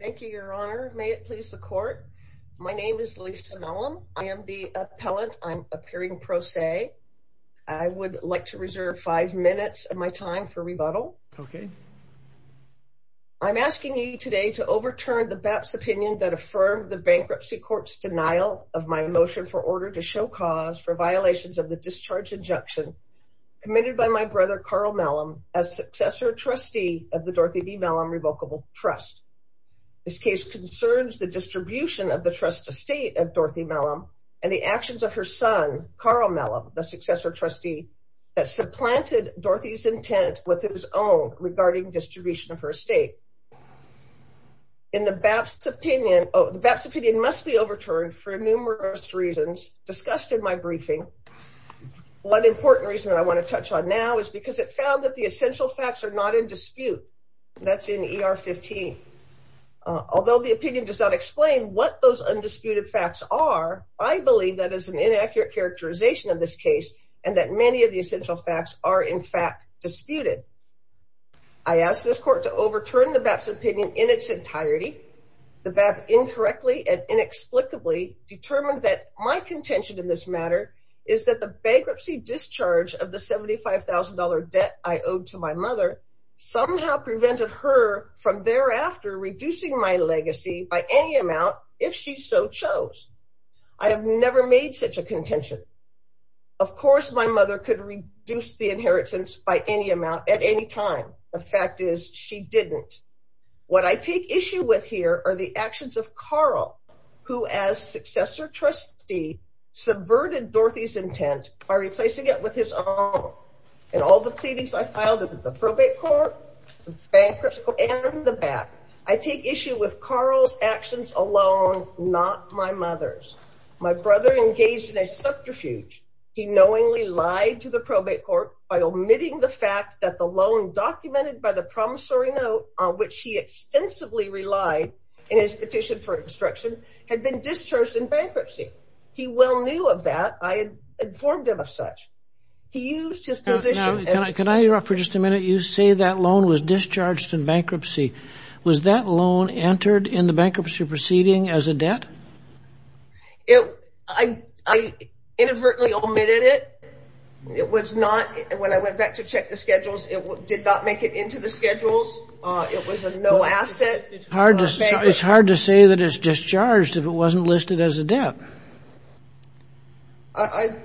Thank you, your honor. May it please the court. My name is Lisa Mellem. I am the appellant. I'm appearing pro se. I would like to reserve five minutes of my time for rebuttal. Okay. I'm asking you today to overturn the BAPT's opinion that affirmed the bankruptcy court's denial of my motion for order to show cause for violations of the discharge injunction committed by my brother, Carl Mellem, as successor trustee of the Dorothy B. Mellem Revocable Trust. This case concerns the distribution of the trust estate of Dorothy Mellem and the actions of her son, Carl Mellem, the successor trustee that supplanted Dorothy's intent with his own regarding distribution of her estate. The BAPT's opinion must be overturned for now because it found that the essential facts are not in dispute. That's in ER 15. Although the opinion does not explain what those undisputed facts are, I believe that is an inaccurate characterization of this case and that many of the essential facts are in fact disputed. I ask this court to overturn the BAPT's opinion in its entirety. The BAPT incorrectly and of the $75,000 debt I owed to my mother somehow prevented her from thereafter reducing my legacy by any amount if she so chose. I have never made such a contention. Of course, my mother could reduce the inheritance by any amount at any time. The fact is she didn't. What I take issue with here are the actions of Carl, who as successor trustee subverted Dorothy's intent by replacing it with his own. In all the pleadings I filed at the probate court, the bankruptcy court, and the BAPT, I take issue with Carl's actions alone, not my mother's. My brother engaged in a subterfuge. He knowingly lied to the probate court by omitting the fact that the loan documented by the promissory note on which he extensively relied in his petition for obstruction had been discharged in bankruptcy. He well knew of that. I informed him of such. He used his position. Now, can I interrupt for just a minute? You say that loan was discharged in bankruptcy. Was that loan entered in the bankruptcy proceeding as a debt? It, I, I inadvertently omitted it. It was not, when I went back to check the schedules, it did not make it into the schedules. It was a no asset. It's hard to say that it's discharged if it wasn't listed as a debt. I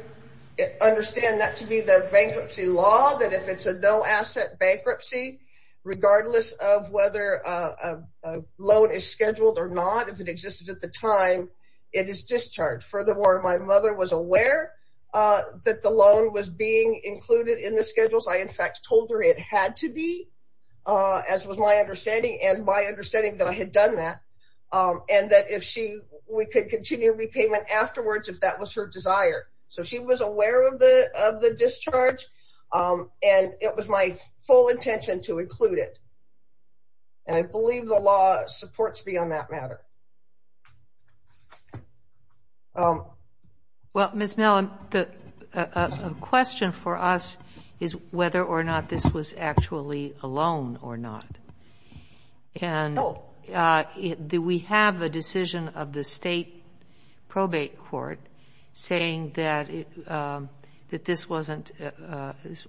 understand that to be the bankruptcy law, that if it's a no asset bankruptcy, regardless of whether a loan is scheduled or not, if it existed at the time, it is discharged. Furthermore, my mother was aware that the loan was being included in the schedules. I, in fact, told her it had to be, as was my understanding, and my understanding that I had done that, and that if she, we could continue repayment afterwards if that was her desire. So she was aware of the, of the discharge, and it was my full intention to include it. And I believe the law supports me on that matter. Well, Ms. Mellon, the, a question for us is whether or not this was actually a loan or not. And do we have a decision of the state probate court saying that it, that this wasn't,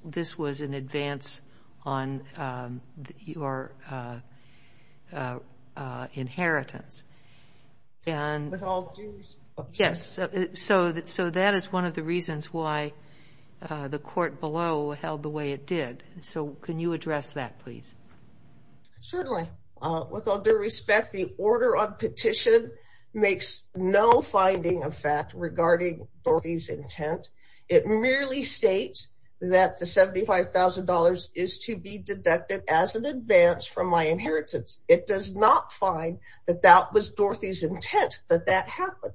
this was an advance on your inheritance? With all due respect. Yes. So that is one of the reasons why the court below held the way it did. So can you address that, please? Certainly. With all due respect, the order on petition makes no finding of fact regarding Dorothy's intent. It merely states that the $75,000 is to be deducted as an advance from my inheritance. It does not find that that was Dorothy's intent that that happened.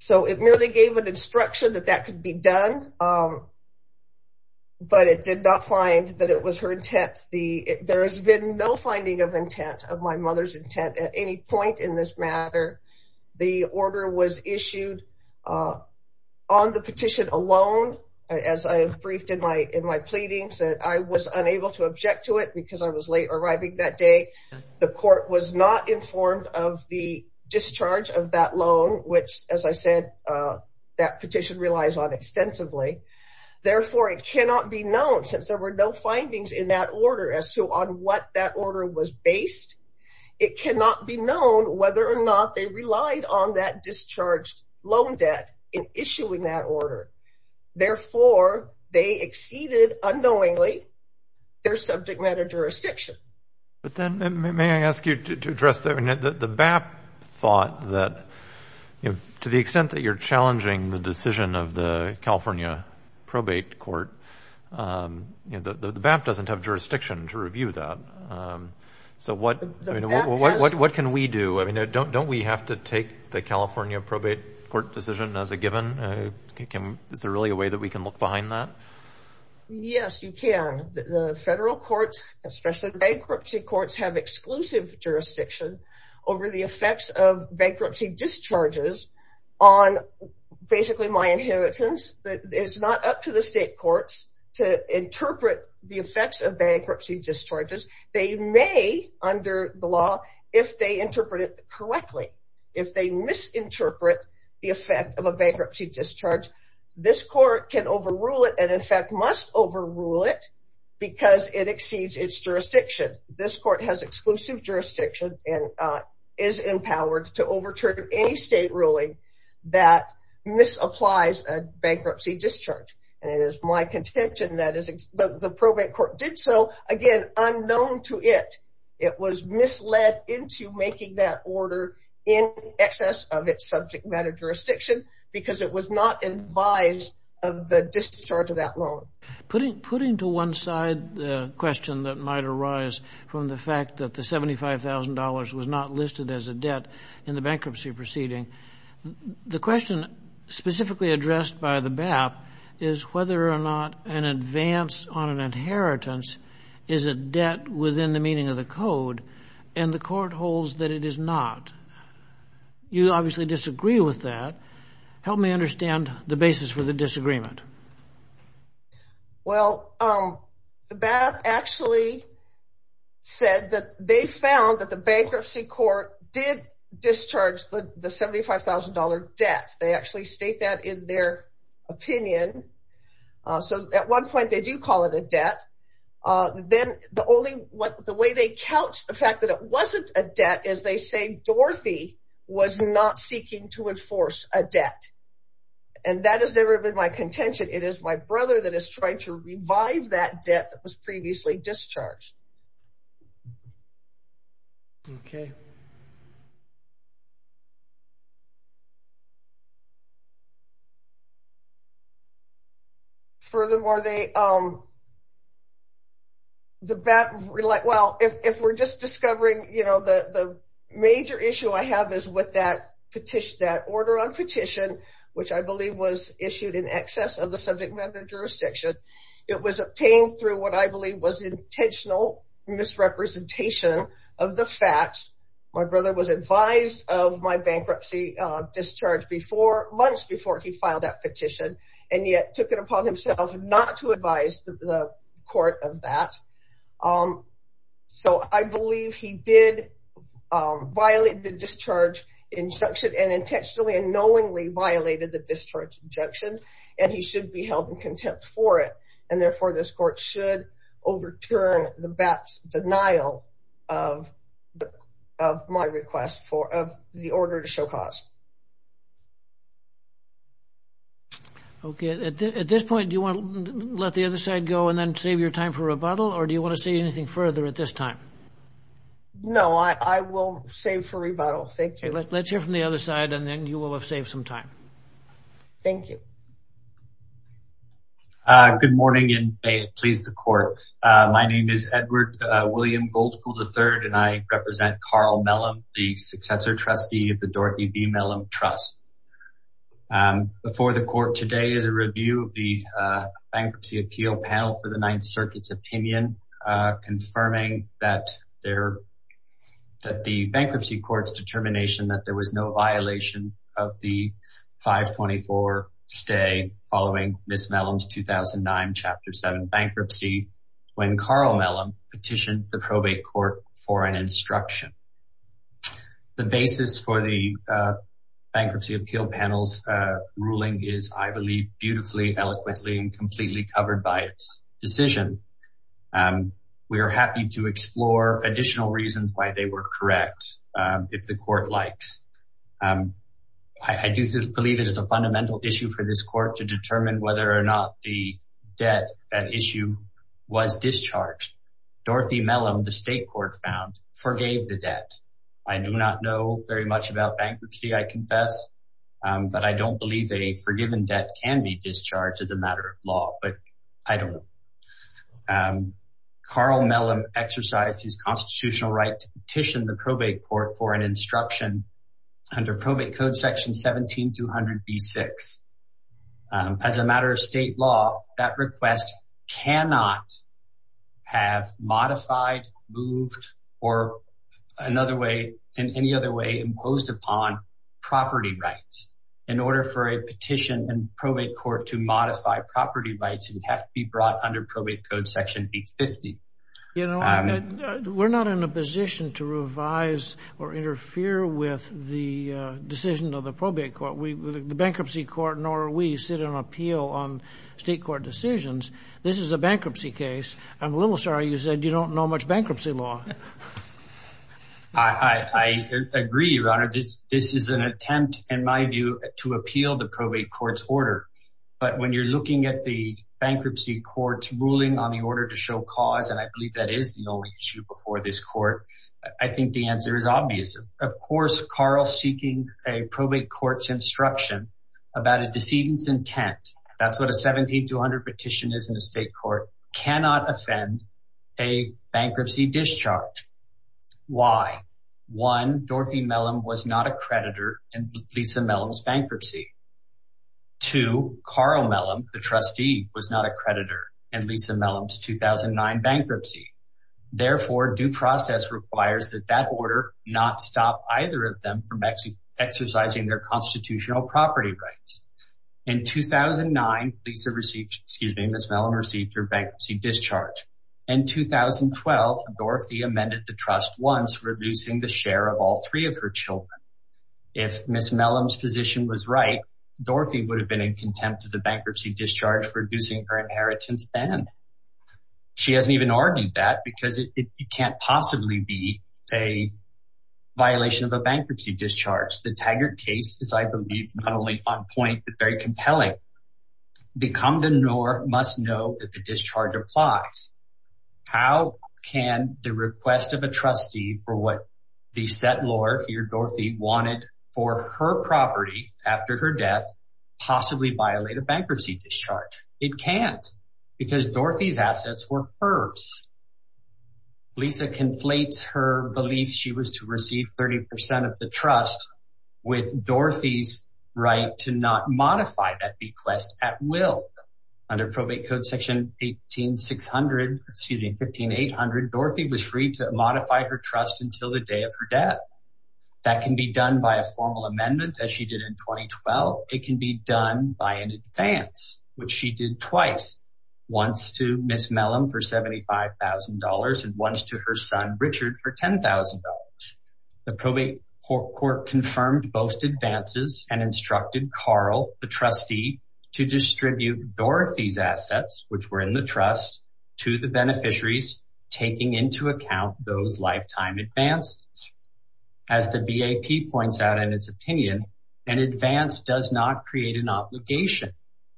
So it merely gave an instruction that that could be done, but it did not find that it was her intent. The, there has been no finding of intent of my mother's matter. The order was issued on the petition alone. As I briefed in my, in my pleadings that I was unable to object to it because I was late arriving that day. The court was not informed of the discharge of that loan, which as I said that petition relies on extensively. Therefore, it cannot be known since there were no findings in that order as to on what that order was based. It cannot be known whether or not they relied on that discharged loan debt in issuing that order. Therefore, they exceeded unknowingly their subject matter jurisdiction. But then may I ask you to address the BAP thought that, you know, to the extent that you're challenging the decision of the California Probate Court, you know, the BAP doesn't have What can we do? I mean, don't we have to take the California Probate Court decision as a given? Is there really a way that we can look behind that? Yes, you can. The federal courts, especially bankruptcy courts, have exclusive jurisdiction over the effects of bankruptcy discharges on basically my inheritance. It's not up to the law if they interpret it correctly. If they misinterpret the effect of a bankruptcy discharge, this court can overrule it and in fact must overrule it because it exceeds its jurisdiction. This court has exclusive jurisdiction and is empowered to overturn any state ruling that misapplies a bankruptcy discharge. And it is my contention that the Probate Court did so, again, unknown to it. It was misled into making that order in excess of its subject matter jurisdiction because it was not advised of the discharge of that loan. Putting to one side the question that might arise from the fact that the $75,000 was not listed as a debt in the bankruptcy proceeding, the question specifically addressed by the BAP is whether or not an advance on an inheritance is a debt within the meaning of the code and the court holds that it is not. You obviously disagree with that. Help me understand the basis for the disagreement. Well, the BAP actually said that they found that the bankruptcy court did discharge the $75,000 debt. They actually state that in their opinion. So at one point they do call it a debt. Then the only way they couch the fact that it wasn't a debt is they say Dorothy was not seeking to enforce a debt. And that has never been my contention. It is my brother that is trying to revive that debt that was previously discharged. Okay. Furthermore, if we are just discovering the major issue I have is with that order on petition, which I believe was issued in excess of the subject matter jurisdiction, it was obtained through what I believe was intentional misrepresentation of the facts. My brother was months before he filed that petition and yet took it upon himself not to advise the court of that. So I believe he did violate the discharge injunction and intentionally and knowingly violated the discharge injunction. And he should be held in contempt for it. And therefore, this court should overturn the BAP's denial of my request for the order to show my request. Okay. At this point, do you want to let the other side go and then save your time for rebuttal? Or do you want to say anything further at this time? No, I will save for rebuttal. Thank you. Let's hear from the other side and then you will have saved some time. Thank you. Good morning and may it please the court. My name is Edward William Goldfoo, III, and I represent Carl Mellom, the successor trustee of the Dorothy B. Mellom Trust. Before the court today is a review of the bankruptcy appeal panel for the Ninth Circuit's opinion, confirming that the bankruptcy court's determination that there was no violation of the 524 stay following Ms. Mellom's decision. The basis for the bankruptcy appeal panel's ruling is, I believe, beautifully, eloquently, and completely covered by its decision. We are happy to explore additional reasons why they were correct, if the court likes. I do believe it is a fundamental issue for this court to determine whether or not the debt at issue was discharged. Dorothy Mellom, the state court found, forgave the debt. I do not know very much about bankruptcy, I confess, but I don't believe a forgiven debt can be discharged as a matter of law, but I don't know. Carl Mellom exercised his constitutional right to petition the probate court for an instruction under probate code section 17200B6. As a matter of state law, that request cannot have modified, moved, or another way, in any other way, imposed upon property rights. In order for a petition and probate court to modify property rights, it would have to be brought under probate code section B50. You know, we're not in a position to revise or interfere with the decision of the probate court. The bankruptcy court nor we sit on appeal on state court decisions. This is a bankruptcy case. I'm a little sorry you said you don't know much bankruptcy law. I agree, your honor. This is an attempt, in my view, to appeal the probate court's order, but when you're looking at the cause, and I believe that is the only issue before this court, I think the answer is obvious. Of course, Carl seeking a probate court's instruction about a decedent's intent, that's what a 17200 petition is in a state court, cannot offend a bankruptcy discharge. Why? One, Dorothy Mellom was not a creditor in Lisa Mellom's bankruptcy. Two, Carl Mellom, the trustee, was not a creditor in Lisa Mellom's 2009 bankruptcy. Therefore, due process requires that that order not stop either of them from exercising their constitutional property rights. In 2009, Lisa received, excuse me, Ms. Mellom received her bankruptcy discharge. In 2012, Dorothy amended the trust once, reducing the share of all three of her children. If Ms. Mellom's position was right, Dorothy would have been in contempt of the bankruptcy discharge for reducing her inheritance then. She hasn't even argued that because it can't possibly be a violation of a bankruptcy discharge. The Taggart case is, I believe, not only on point, but very compelling. The condenor must know that the discharge applies. How can the request of a wanted for her property after her death possibly violate a bankruptcy discharge? It can't because Dorothy's assets were hers. Lisa conflates her belief she was to receive 30% of the trust with Dorothy's right to not modify that request at will. Under probate code section 18600, excuse me, 15800, Dorothy was free to modify her trust until the day of her death. That can be done by a formal amendment as she did in 2012. It can be done by an advance, which she did twice, once to Ms. Mellom for $75,000 and once to her son Richard for $10,000. The probate court confirmed both advances and instructed Carl, the trustee, to distribute Dorothy's assets, which were in the trust, to the beneficiaries, taking into account those lifetime advances. As the BAP points out in its opinion, an advance does not create an obligation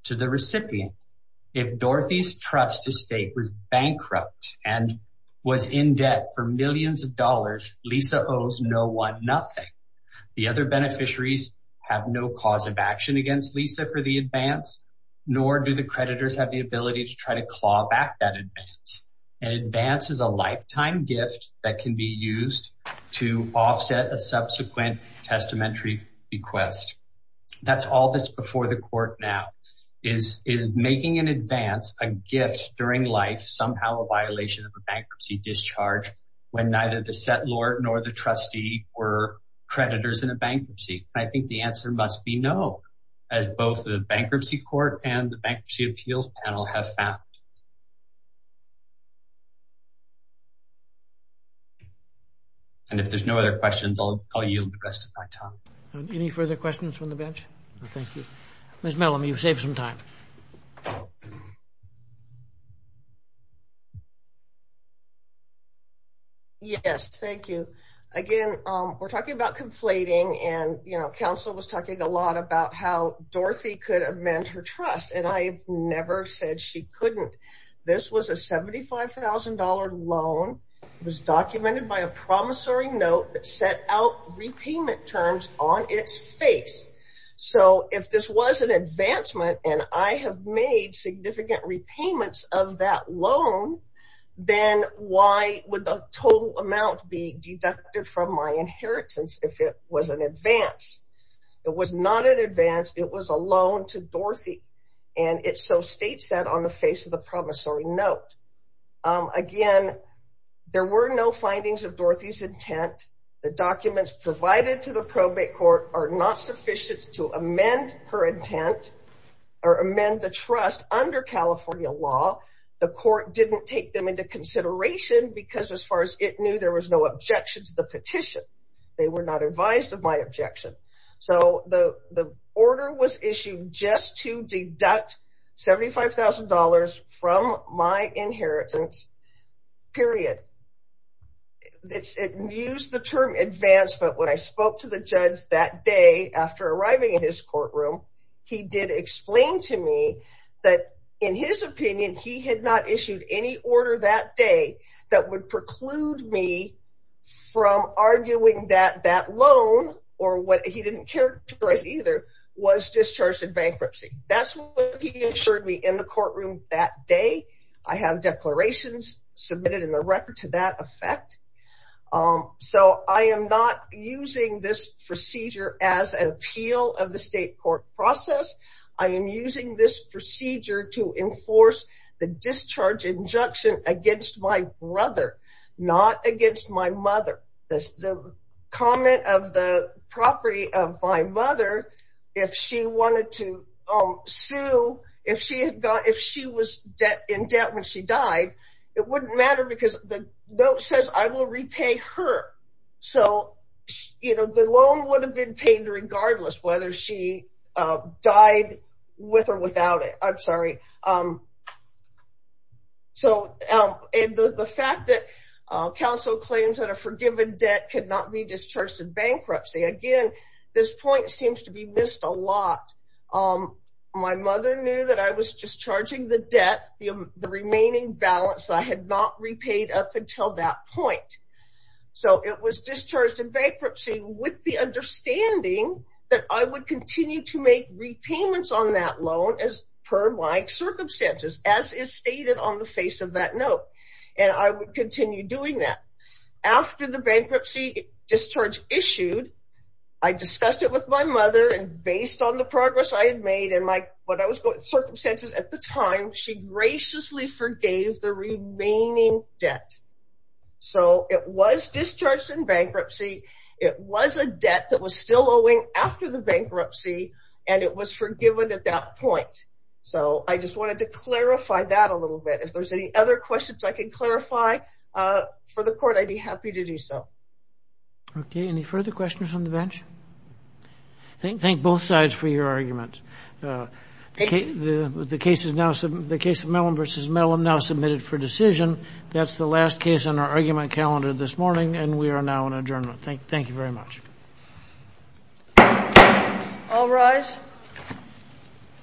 to the recipient. If Dorothy's trust estate was bankrupt and was in debt for millions of dollars, Lisa owes no one nothing. The other beneficiaries have no cause of action against Lisa for the advance, nor do the creditors have the ability to try to claw back that advance. An advance is a lifetime gift that can be used to offset a subsequent testamentary request. That's all that's before the court now, is making an advance, a gift during life, somehow a violation of a bankruptcy discharge when neither the settlor nor the trustee were creditors in a bankruptcy. I think the answer must be no, as both the Bankruptcy Court and the Bankruptcy Appeals Panel have found. And if there's no other questions, I'll yield the rest of my time. Any further questions from the bench? No, thank you. Ms. Mellom, you've saved some time. Yes, thank you. Again, we're talking about conflating, and counsel was talking a lot about how Dorothy could amend her trust, and I never said she couldn't. This was a $75,000 loan. It was documented by a promissory note that set out repayment terms on its face. So, if this was an advancement, and I have made significant repayments of that loan, then why would the total amount be deducted from my inheritance if it was an advance? It was not an advance. It was a loan to Dorothy, and it so states that on the face of the promissory note. Again, there were no findings of Dorothy's intent. The documents provided to the probate are not sufficient to amend her intent or amend the trust under California law. The court didn't take them into consideration because as far as it knew, there was no objection to the petition. They were not advised of my objection. So, the order was issued just to deduct $75,000 from my inheritance, period. It used the term advancement when I spoke to the judge that day after arriving in his courtroom. He did explain to me that, in his opinion, he had not issued any order that day that would preclude me from arguing that that loan, or what he didn't characterize either, was discharged in bankruptcy. That's what he in the courtroom that day. I have declarations submitted in the record to that effect. So, I am not using this procedure as an appeal of the state court process. I am using this procedure to enforce the discharge injunction against my brother, not against my mother. The comment of the property of my mother, if she wanted to sue, if she was in debt when she died, it wouldn't matter because the note says, I will repay her. So, you know, the loan would have been paid regardless whether she died with or without it. I'm sorry. So, the fact that counsel claims that a forgiven debt could not be discharged in bankruptcy, again, this point seems to be missed a lot. My mother knew that I was discharging the debt, the remaining balance I had not repaid up until that point. So, it was discharged in bankruptcy with the understanding that I would continue to make repayments on that loan as per my circumstances, as is stated on the face of that note, and I would continue doing that. After the bankruptcy discharge issued, I discussed it with my mother, and based on the progress I had made, and my circumstances at the time, she graciously forgave the remaining debt. So, it was discharged in bankruptcy. It was a debt that was still owing after the bankruptcy, and it was forgiven at that point. So, I just wanted to clarify that a little bit. If there's any other questions I can clarify for the court, I'd be happy to do so. Okay. Any further questions on the bench? Thank both sides for your arguments. The case of Mellom v. Mellom now submitted for decision. That's the last case on our argument calendar this morning, and we are now in adjournment. Thank you very much. All rise.